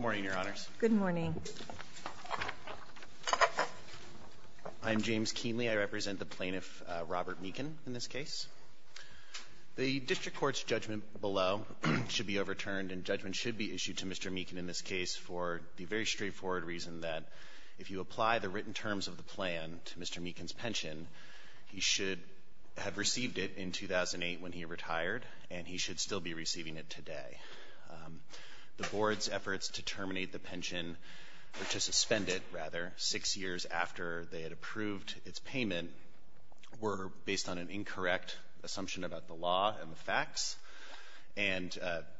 Morning, Your Honors. Good morning. I'm James Keenly. I represent the plaintiff Robert Meakin in this case. The district court's judgment below should be overturned and judgment should be issued to Mr. Meakin in this case for the very straightforward reason that if you apply the written terms of the plan to Mr. Meakin's pension, he should have received it in 2008 when he retired and he should still be receiving it today. The board's efforts to terminate the pension or to suspend it, rather, six years after they had approved its payment were based on an incorrect assumption about the law and the facts and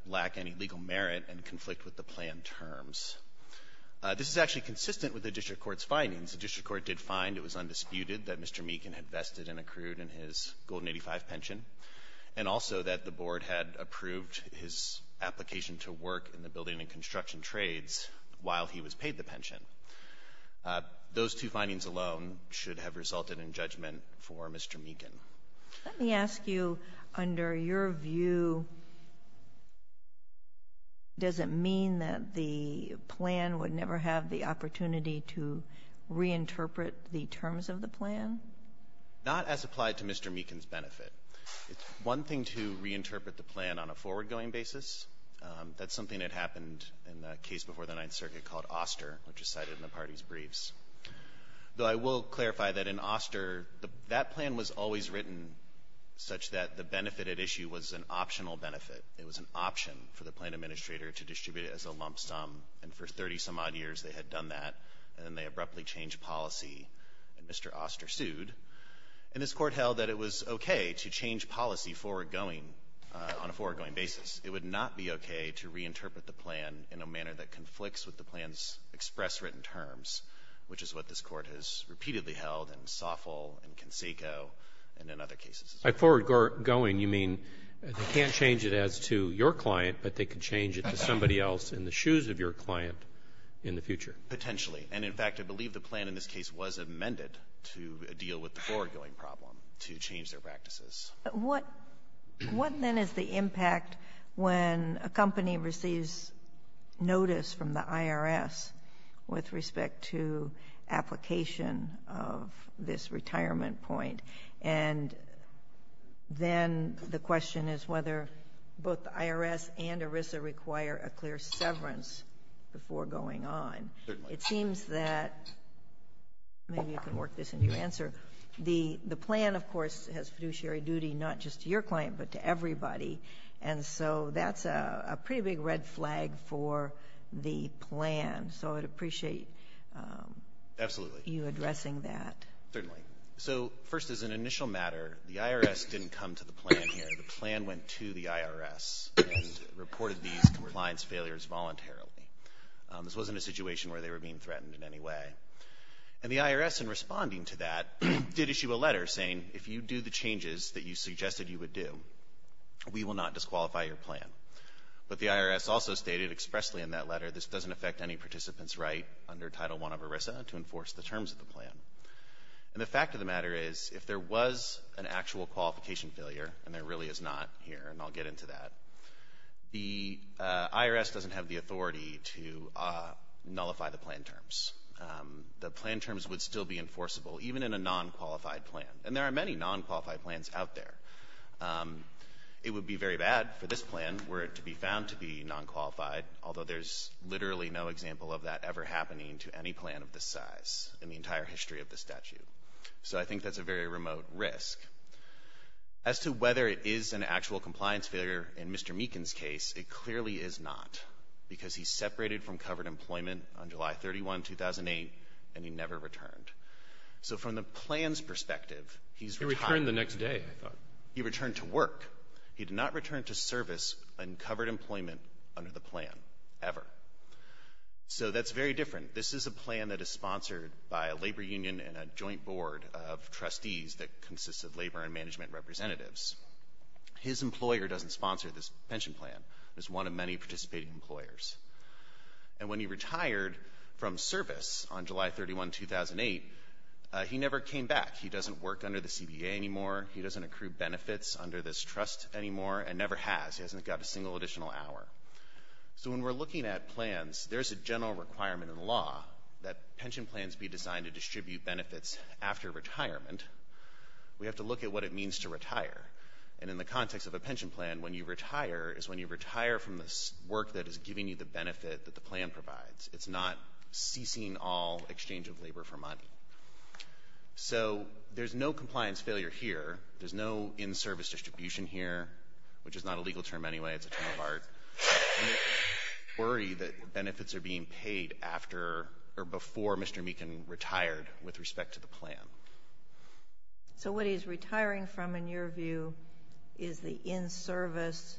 lack any legal merit and conflict with the plan terms. This is actually consistent with the district court's findings. The district court did find it was undisputed that Mr. Meakin had vested and accrued in his Golden 85 pension and also that the board had approved his application to work in the building and construction trades while he was paid the pension. Those two findings alone should have resulted in judgment for Mr. Meakin. Let me ask you, under your view, does it mean that the plan would never have the benefit? Not as applied to Mr. Meakin's benefit. It's one thing to reinterpret the plan on a forward-going basis. That's something that happened in the case before the Ninth Circuit called Oster, which is cited in the party's briefs. Though I will clarify that in Oster, that plan was always written such that the benefit at issue was an optional benefit. It was an option for the plan administrator to distribute it as a lump sum, and for 30-some-odd years they had done that, and then they abruptly changed policy, and this Court held that it was okay to change policy forward-going on a forward-going basis. It would not be okay to reinterpret the plan in a manner that conflicts with the plan's express written terms, which is what this Court has repeatedly held in Soffel and Canseco and in other cases. By forward-going, you mean they can't change it as to your client, but they can change it to somebody else in the shoes of your client in the future? Potentially. And, in fact, I believe the plan in this case was amended to deal with the forward-going problem to change their practices. But what then is the impact when a company receives notice from the IRS with respect to application of this retirement point, and then the question is whether both the IRS and ERISA require a clear severance before going on? Certainly. It seems that maybe you can work this into your answer. The plan, of course, has fiduciary duty not just to your client, but to everybody, and so that's a pretty big red flag for the plan, so I'd appreciate you addressing that. Certainly. So, first, as an initial matter, the IRS didn't come to the plan here. The plan went to the IRS and reported these compliance failures voluntarily. This wasn't a situation where they were being threatened in any way. And the IRS, in responding to that, did issue a letter saying, if you do the changes that you suggested you would do, we will not disqualify your plan. But the IRS also stated expressly in that letter, this doesn't affect any participants right under Title I of ERISA to enforce the terms of the plan. And the fact of the matter is, if there was an actual qualification failure, and there really is not here, and I'll get into that, the IRS doesn't have the authority to nullify the plan terms. The plan terms would still be enforceable, even in a non-qualified plan. And there are many non-qualified plans out there. It would be very bad for this plan were it to be found to be non-qualified, although there's literally no example of that ever happening to any plan of this size in the entire history of the statute. So I think that's a very remote risk. As to whether it is an actual compliance failure in Mr. Meekin's case, it clearly is not, because he separated from covered employment on July 31, 2008, and he never returned. So from the plan's perspective, he's retired. Roberts. He returned the next day, I thought. He returned to work. He did not return to service on covered employment under the plan, ever. So that's very different. This is a plan that is sponsored by a labor union and a joint board of trustees that consists of labor and management representatives. His employer doesn't sponsor this pension plan. It's one of many participating employers. And when he retired from service on July 31, 2008, he never came back. He doesn't work under the CBA anymore. He doesn't accrue benefits under this trust anymore, and never has. He hasn't got a single additional hour. So when we're looking at plans, there's a general requirement in law that pension plans be designed to distribute benefits after retirement. We have to look at what it means to retire. And in the context of a pension plan, when you retire is when you retire from the work that is giving you the benefit that the plan provides. It's not ceasing all exchange of labor for money. So there's no compliance failure here. There's no in-service distribution here, which is not a legal term anyway. It's a term of art. We worry that benefits are being paid after or before Mr. Meekin retired with respect to the plan. So what he's retiring from, in your view, is the in-service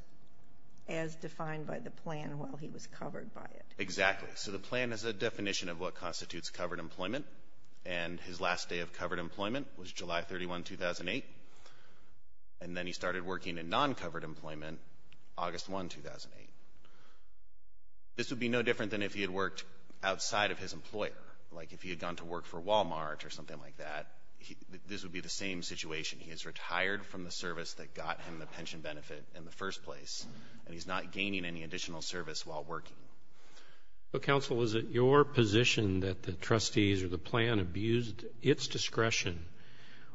as defined by the plan while he was covered by it. Exactly. So the plan is a definition of what constitutes covered employment. And his last day of covered employment was July 31, 2008. And then he started working in non-covered employment August 1, 2008. This would be no different than if he had worked outside of his employer. Like if he had gone to work for Walmart or something like that, this would be the same situation. He has retired from the service that got him the pension benefit in the first place, and he's not gaining any additional service while working. But, counsel, is it your position that the trustees or the plan abused its discretion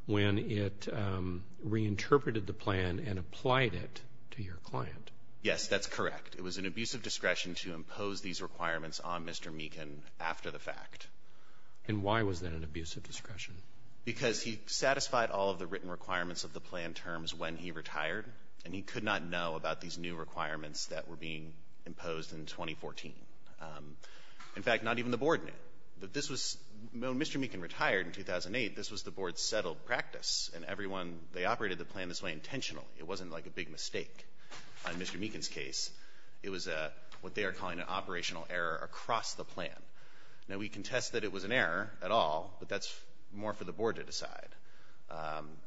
when it reinterpreted the plan and applied it to your client? Yes, that's correct. It was an abuse of discretion to impose these requirements on Mr. Meekin after the fact. And why was that an abuse of discretion? Because he satisfied all of the written requirements of the plan terms when he retired, and he could not know about these new requirements that were being imposed in 2014. In fact, not even the board knew. When Mr. Meekin retired in 2008, this was the board's settled practice. And everyone, they operated the plan this way intentionally. It wasn't like a big mistake. In Mr. Meekin's case, it was what they are calling an operational error across the plan. Now, we contest that it was an error at all, but that's more for the board to decide.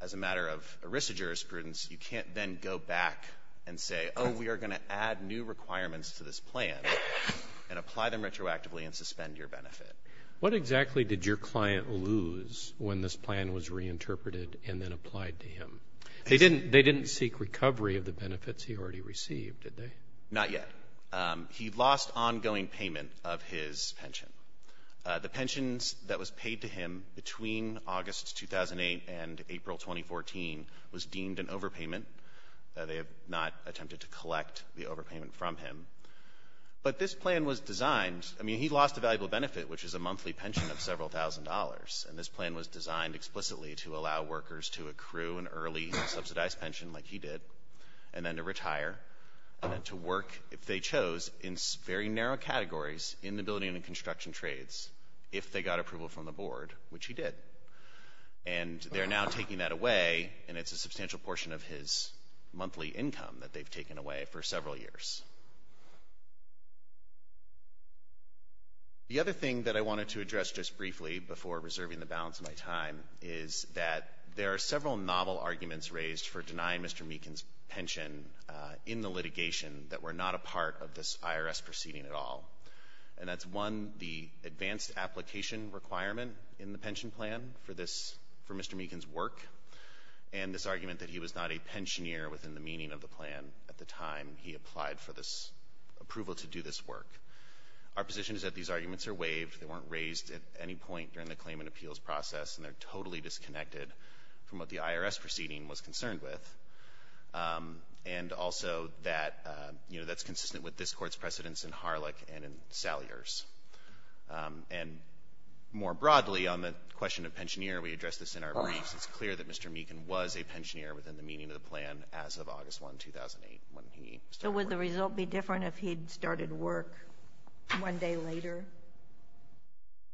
As a matter of arista jurisprudence, you can't then go back and say, oh, we are going to add new requirements to this plan and apply them retroactively and suspend your benefit. What exactly did your client lose when this plan was reinterpreted and then applied to him? They didn't seek recovery of the benefits he already received, did they? Not yet. He lost ongoing payment of his pension. The pensions that was paid to him between August 2008 and April 2014 was deemed an overpayment. They have not attempted to collect the overpayment from him. But this plan was designed, I mean, he lost a valuable benefit, which is a monthly pension of several thousand dollars. And this plan was designed explicitly to allow workers to accrue an early subsidized pension like he did, and then to retire, and then to work, if they chose, in very narrow categories in the building and construction trades, if they got approval from the board, which he did. And they're now taking that away, and it's a substantial portion of his monthly income that they've taken away for several years. The other thing that I wanted to address just briefly before reserving the balance of my time is that there are several novel arguments raised for denying Mr. Meekin's pension in the litigation that were not a part of this IRS proceeding at all. And that's one, the advanced application requirement in the pension plan for Mr. Meekin's work, and this argument that he was not a pensioneer within the meaning of the plan at the time he applied for this approval to do this work. Our position is that these arguments are waived. They weren't raised at any point during the claim and appeals process, and they're totally disconnected from what the IRS proceeding was concerned with. And also that, you know, that's consistent with this court's precedence in Harlech and in Salyers. And more broadly, on the question of pensioneer, we addressed this in our briefs. It's clear that Mr. Meekin was a pensioneer within the meaning of the plan as of August 1, 2008, when he started work. One day later?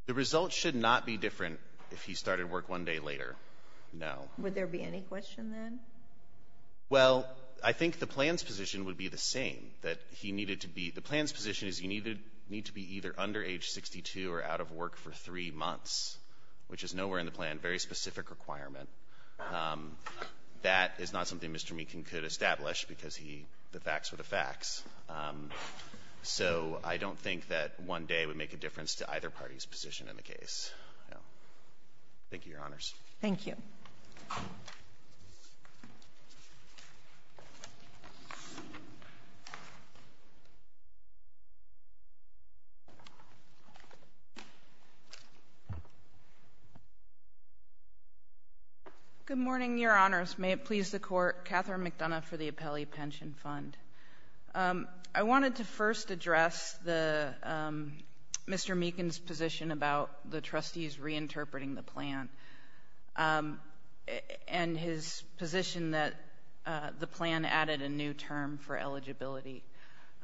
The result should not be different if he started work one day later. No. Would there be any question, then? Well, I think the plan's position would be the same, that he needed to be the plan's position is he needed need to be either under age 62 or out of work for three months, which is nowhere in the plan. Very specific requirement. That is not something Mr. Meekin could establish because he the facts were the facts. So I don't think that one day would make a difference to either party's position in the case. Thank you, Your Honors. Thank you. Good morning, Your Honors. May it please the Court. Catherine McDonough for the Appellee Pension Fund. I wanted to first address Mr. Meekin's position about the trustees reinterpreting the plan and his position that the plan added a new term for eligibility.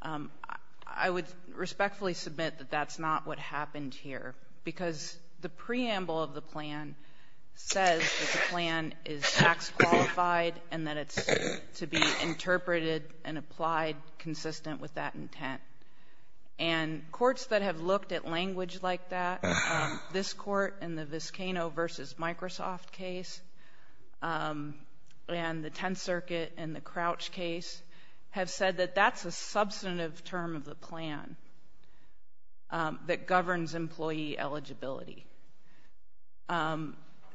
I would respectfully submit that that's not what happened here because the preamble of the plan says that the plan is tax qualified and that it's to be interpreted and applied consistent with that intent. And courts that have looked at language like that, this court in the Viscano v. Microsoft case and the Tenth Circuit and the Crouch case have said that that's a substantive term of the plan that governs employee eligibility.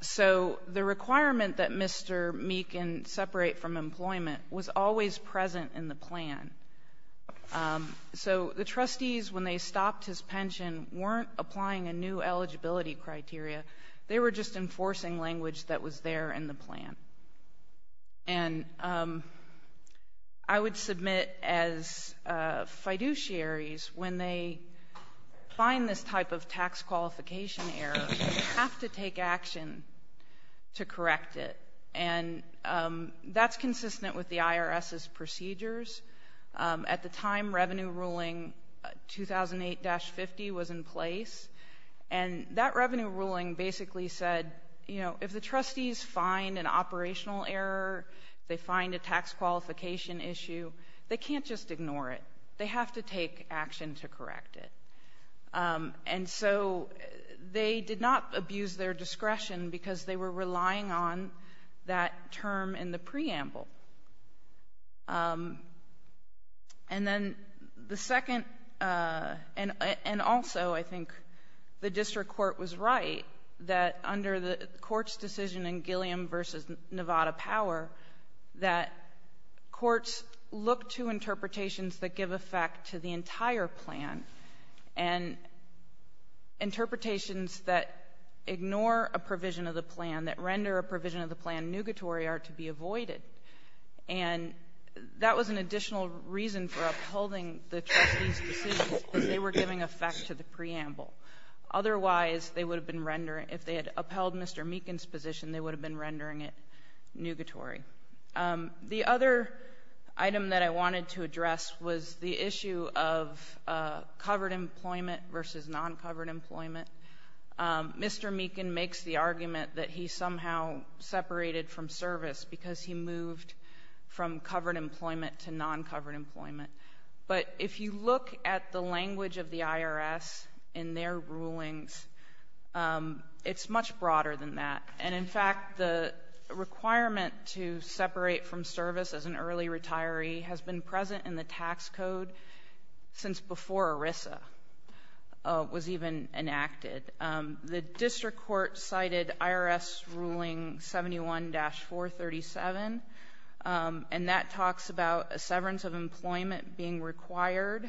So the requirement that Mr. Meekin separate from employment was always present in the plan. So the trustees, when they stopped his pension, weren't applying a new eligibility criteria. They were just enforcing language that was there in the plan. And I would submit as fiduciaries, when they find this type of tax qualification error, they have to take action to correct it. And that's consistent with the IRS's procedures. At the time, Revenue Ruling 2008-50 was in place. And that Revenue Ruling basically said, you know, if the trustees find an operational error, they find a tax qualification issue, they can't just ignore it. They have to take action to correct it. And so they did not abuse their discretion because they were relying on that term in the preamble. And then the second, and also I think the district court was right, that under the court's decision in Gilliam v. Nevada Power, that courts look to interpretations that give effect to the entire plan. And interpretations that ignore a provision of the plan, that render a provision of the plan nugatory, are to be avoided. And that was an additional reason for upholding the trustees' decisions, because they were giving effect to the preamble. Otherwise, if they had upheld Mr. Meekin's position, they would have been rendering it nugatory. The other item that I wanted to address was the issue of covered employment versus non-covered employment. Mr. Meekin makes the argument that he somehow separated from service because he moved from covered employment to non-covered employment. But if you look at the language of the IRS in their rulings, it's much broader than that. And in fact, the requirement to separate from service as an early retiree has been present in the tax code since before ERISA was even enacted. The district court cited IRS Ruling 71-437, and that talks about a severance of employment being required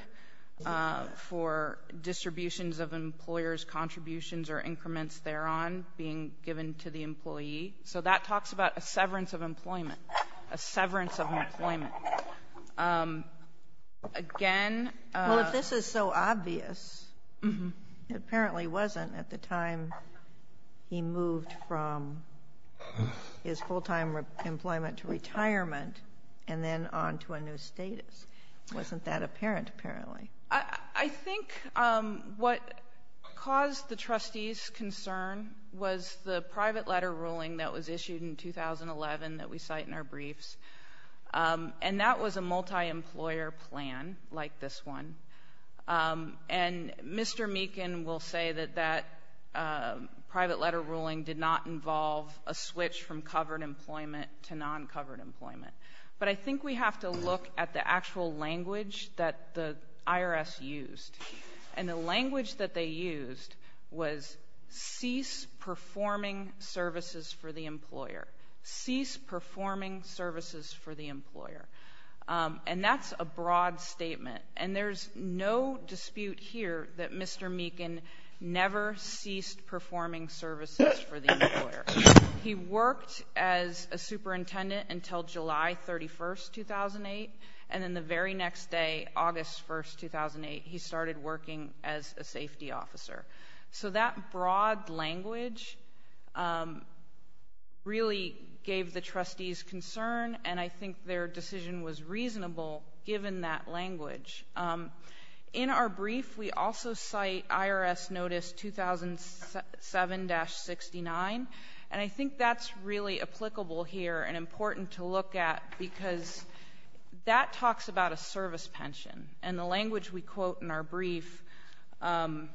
for distributions of employers' contributions or increments thereon being given to the employee. So that talks about a severance of employment, a severance of employment. Again... Well, if this is so obvious, it apparently wasn't at the time he moved from his full-time employment to retirement and then on to a new status. It wasn't that apparent, apparently. I think what caused the trustees' concern was the private letter ruling that was issued in 2011 that we cite in our briefs. And that was a multi-employer plan like this one. And Mr. Meekin will say that that private letter ruling did not involve a switch from covered employment to non-covered employment. But I think we have to look at the actual language that the IRS used. And the language that they used was, cease performing services for the employer. Cease performing services for the employer. And that's a broad statement. And there's no dispute here that Mr. Meekin never ceased performing services for the employer. He worked as a superintendent until July 31st, 2008. And then the very next day, August 1st, 2008, he started working as a safety officer. So that broad language really gave the trustees concern. And I think their decision was reasonable given that language. In our brief, we also cite IRS Notice 2007-69. And I think that's really applicable here and important to look at because that talks about a service pension. And the language we quote in our brief, and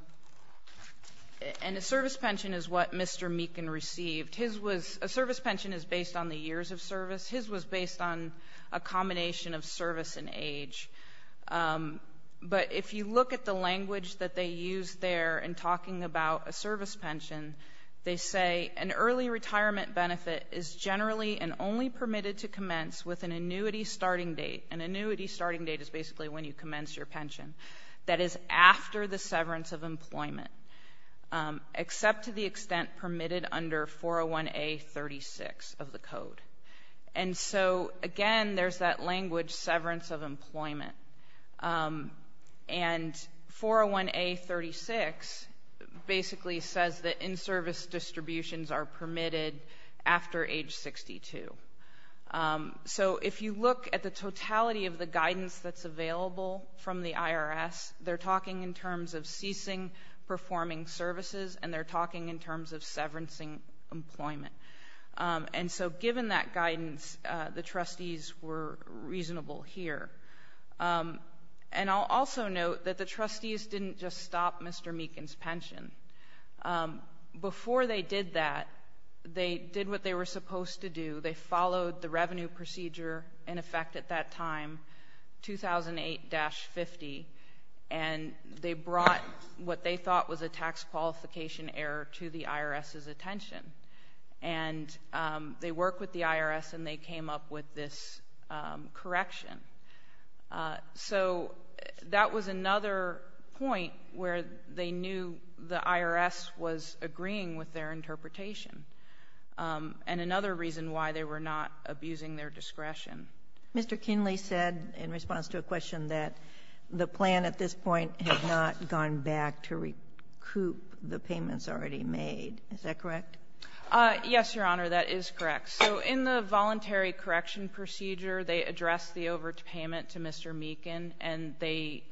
a service pension is what Mr. Meekin received. A service pension is based on the years of service. His was based on a combination of service and age. But if you look at the language that they used there in talking about a service pension, they say an early retirement benefit is generally and only permitted to commence with an annuity starting date. An annuity starting date is basically when you commence your pension. That is after the severance of employment, except to the extent permitted under 401A-36 of the code. And so, again, there's that language severance of employment. And 401A-36 basically says that in-service distributions are permitted after age 62. So if you look at the totality of the guidance that's available from the IRS, they're talking in terms of ceasing performing services and they're talking in terms of severancing employment. And so given that guidance, the trustees were reasonable here. And I'll also note that the trustees didn't just stop Mr. Meekin's pension. Before they did that, they did what they were supposed to do. They followed the revenue procedure in effect at that time, 2008-50, and they brought what they thought was a tax qualification error to the IRS's attention. And they worked with the IRS and they came up with this correction. So that was another point where they knew the IRS was agreeing with their interpretation, and another reason why they were not abusing their discretion. Mr. Kinley said in response to a question that the plan at this point had not gone back to recoup the payments already made. Is that correct? Yes, Your Honor, that is correct. So in the voluntary correction procedure, they addressed the overpayment to Mr. Meekin, and they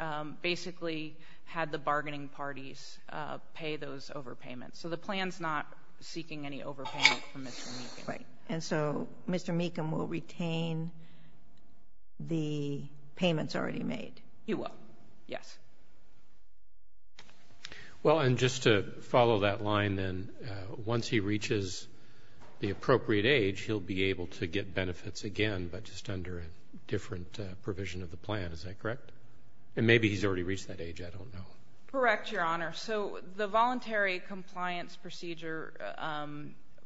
basically had the bargaining parties pay those overpayments. So the plan's not seeking any overpayment from Mr. Meekin. Exactly. And so Mr. Meekin will retain the payments already made? He will, yes. Well, and just to follow that line then, once he reaches the appropriate age, he'll be able to get benefits again but just under a different provision of the plan. Is that correct? And maybe he's already reached that age. I don't know. Correct, Your Honor. So the voluntary compliance procedure,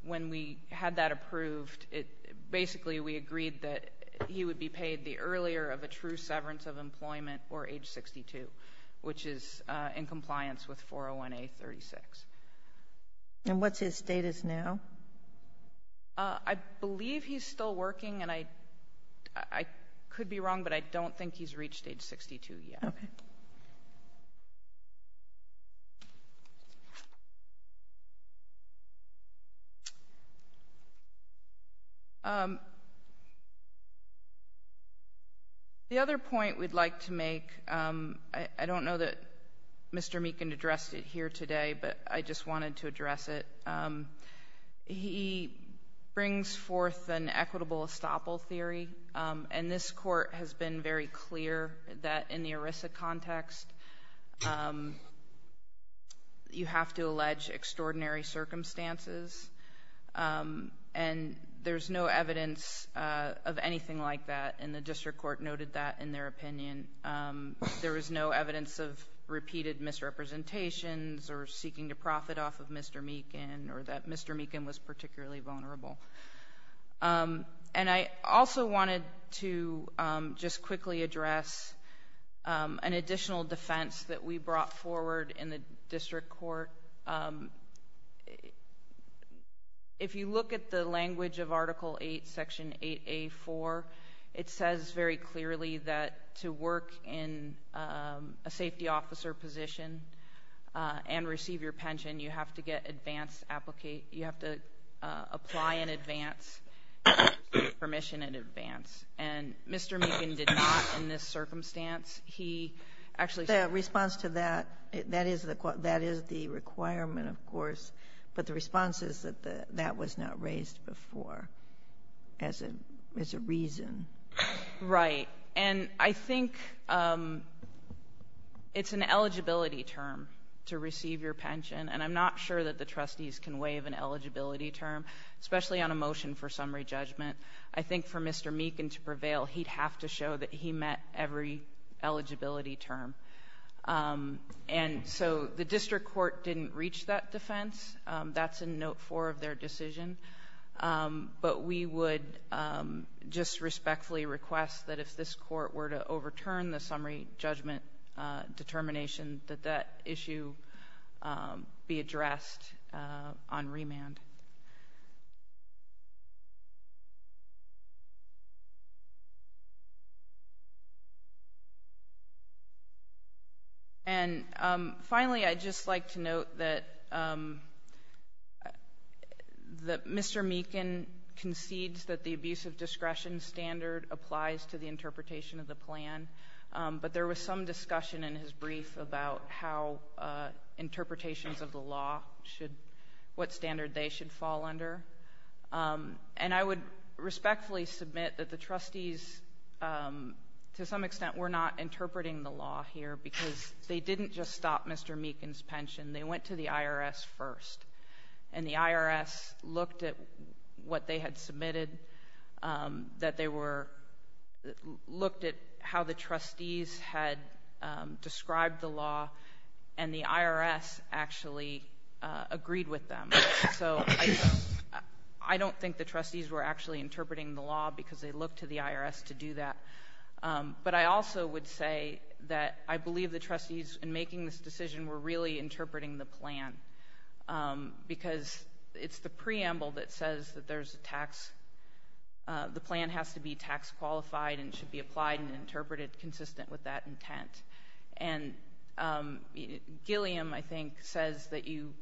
when we had that approved, basically we agreed that he would be paid the earlier of a true severance of employment or age 62, which is in compliance with 401A-36. And what's his status now? I believe he's still working, and I could be wrong, but I don't think he's reached age 62 yet. Okay. The other point we'd like to make, I don't know that Mr. Meekin addressed it here today, but I just wanted to address it. He brings forth an equitable estoppel theory, and this Court has been very clear that in the ERISA context, you have to allege extraordinary circumstances, and there's no evidence of anything like that, and the district court noted that in their opinion. There was no evidence of repeated misrepresentations or seeking to profit off of Mr. Meekin or that Mr. Meekin was particularly vulnerable. And I also wanted to just quickly address an additional defense that we brought forward in the district court. If you look at the language of Article 8, Section 8A-4, it says very clearly that to work in a safety officer position and receive your pension, you have to apply in advance and receive permission in advance, and Mr. Meekin did not in this circumstance. The response to that, that is the requirement, of course, but the response is that that was not raised before as a reason. Right, and I think it's an eligibility term to receive your pension, and I'm not sure that the trustees can waive an eligibility term, especially on a motion for summary judgment. I think for Mr. Meekin to prevail, he'd have to show that he met every eligibility term. And so the district court didn't reach that defense. That's in Note 4 of their decision, but we would just respectfully request that if this court were to overturn the summary judgment determination, that that issue be addressed on remand. And finally, I'd just like to note that Mr. Meekin concedes that the abusive discretion standard applies to the interpretation of the plan, but there was some discussion in his brief about how interpretations of the law should, what standard they should fall under. And I would respectfully submit that the trustees, to some extent, were not interpreting the law here because they didn't just stop Mr. Meekin's pension. They went to the IRS first, and the IRS looked at what they had submitted, that they were, looked at how the trustees had described the law, and the IRS actually agreed with them. So I don't think the trustees were actually interpreting the law because they looked to the IRS to do that. But I also would say that I believe the trustees in making this decision were really interpreting the plan because it's the preamble that says that there's a tax, the plan has to be tax qualified and should be applied and interpreted consistent with that intent. And Gilliam, I think, says that you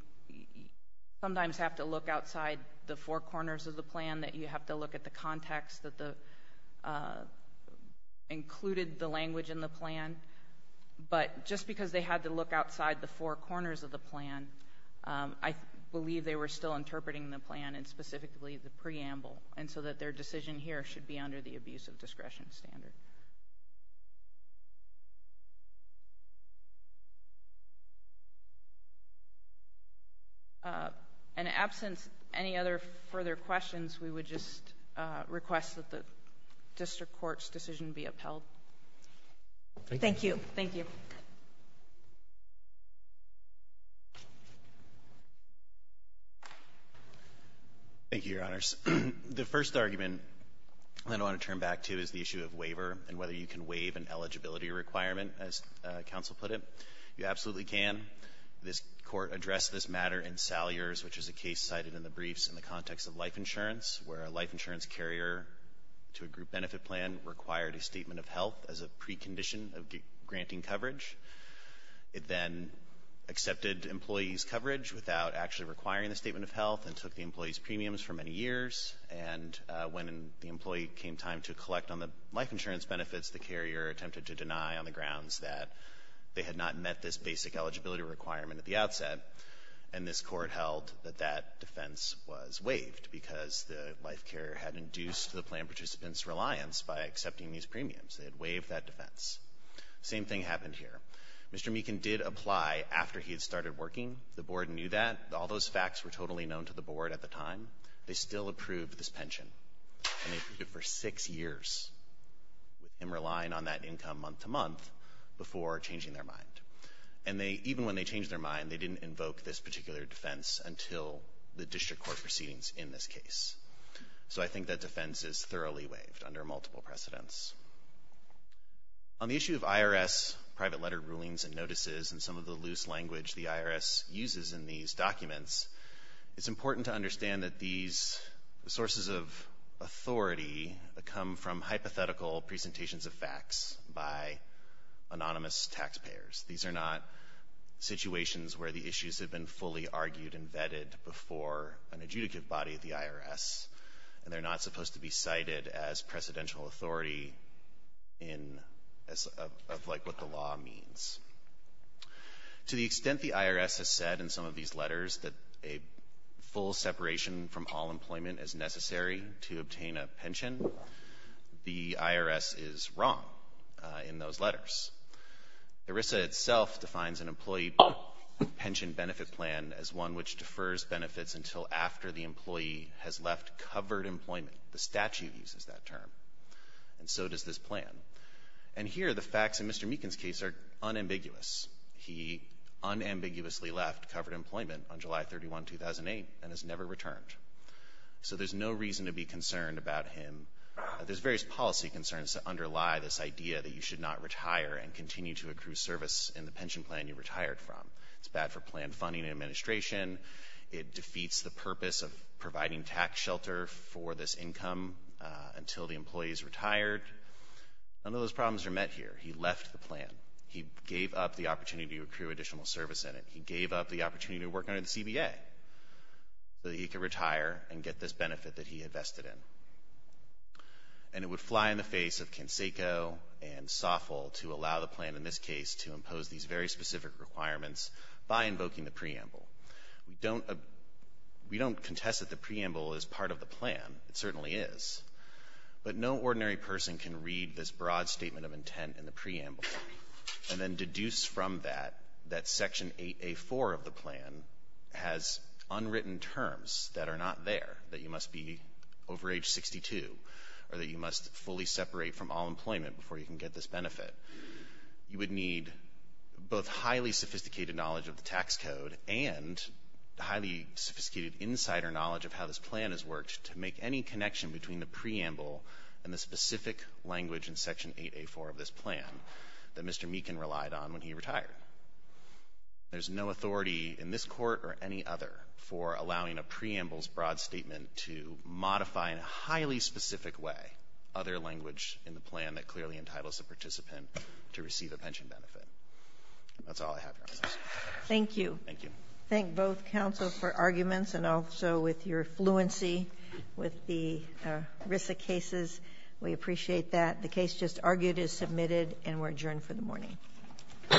sometimes have to look outside the four corners of the plan, that you have to look at the context that included the language in the plan. But just because they had to look outside the four corners of the plan, I believe they were still interpreting the plan and specifically the preamble, and so that their decision here should be under the abuse of discretion standard. In absence of any other further questions, we would just request that the district court's decision be upheld. Thank you. Thank you. Thank you, Your Honors. The first argument I want to turn back to is the issue of waiver and whether you can waive an eligibility requirement, as counsel put it. You absolutely can. This Court addressed this matter in Salyers, which is a case cited in the briefs in the context of life insurance, where a life insurance carrier to a group benefit plan required a statement of health as a precondition of granting coverage. It then accepted employees' coverage without actually requiring the statement of health and took the employees' premiums for many years. And when the employee came time to collect on the life insurance benefits, the carrier attempted to deny on the grounds that they had not met this basic eligibility requirement at the outset. And this Court held that that defense was waived, because the life carrier had induced the plan participant's reliance by accepting these premiums. They had waived that defense. Same thing happened here. Mr. Meekin did apply after he had started working. The Board knew that. All those facts were totally known to the Board at the time. They still approved this pension, and they approved it for six years, him relying on that income month to month before changing their mind. And even when they changed their mind, they didn't invoke this particular defense until the district court proceedings in this case. So I think that defense is thoroughly waived under multiple precedents. On the issue of IRS private letter rulings and notices and some of the loose language the IRS uses in these documents, it's important to understand that these sources of authority come from hypothetical presentations of facts by anonymous taxpayers. These are not situations where the issues have been fully argued and vetted before an adjudicative body of the IRS, and they're not supposed to be cited as precedential authority in what the law means. To the extent the IRS has said in some of these letters that a full separation from all employment is necessary to obtain a pension, the IRS is wrong in those letters. IRISA itself defines an employee pension benefit plan as one which defers benefits until after the employee has left covered employment. The statute uses that term, and so does this plan. And here the facts in Mr. Meekin's case are unambiguous. He unambiguously left covered employment on July 31, 2008, and has never returned. So there's no reason to be concerned about him. There's various policy concerns that underlie this idea that you should not retire and continue to accrue service in the pension plan you retired from. It's bad for plan funding and administration. It defeats the purpose of providing tax shelter for this income until the employee is retired. None of those problems are met here. He left the plan. He gave up the opportunity to accrue additional service in it. He gave up the opportunity to work under the CBA so that he could retire and get this benefit that he invested in. And it would fly in the face of Canseco and Soffel to allow the plan in this case to impose these very specific requirements by invoking the preamble. We don't contest that the preamble is part of the plan. It certainly is. But no ordinary person can read this broad statement of intent in the preamble and then deduce from that that Section 8A.4 of the plan has unwritten terms that are not there, that you must be over age 62 or that you must fully separate from all employment before you can get this benefit. You would need both highly sophisticated knowledge of the tax code and highly sophisticated insider knowledge of how this plan has worked to make any connection between the preamble and the specific language in Section 8A.4 of this plan that Mr. Meekin relied on when he retired. There's no authority in this Court or any other for allowing a preamble's broad statement to modify in a highly specific way other language in the plan that clearly entitles the participant to receive a pension benefit. That's all I have, Your Honor. Thank you. Thank you. Thank both counsel for arguments and also with your fluency with the RISA cases. We appreciate that. The case just argued is submitted and we're adjourned for the morning. All rise.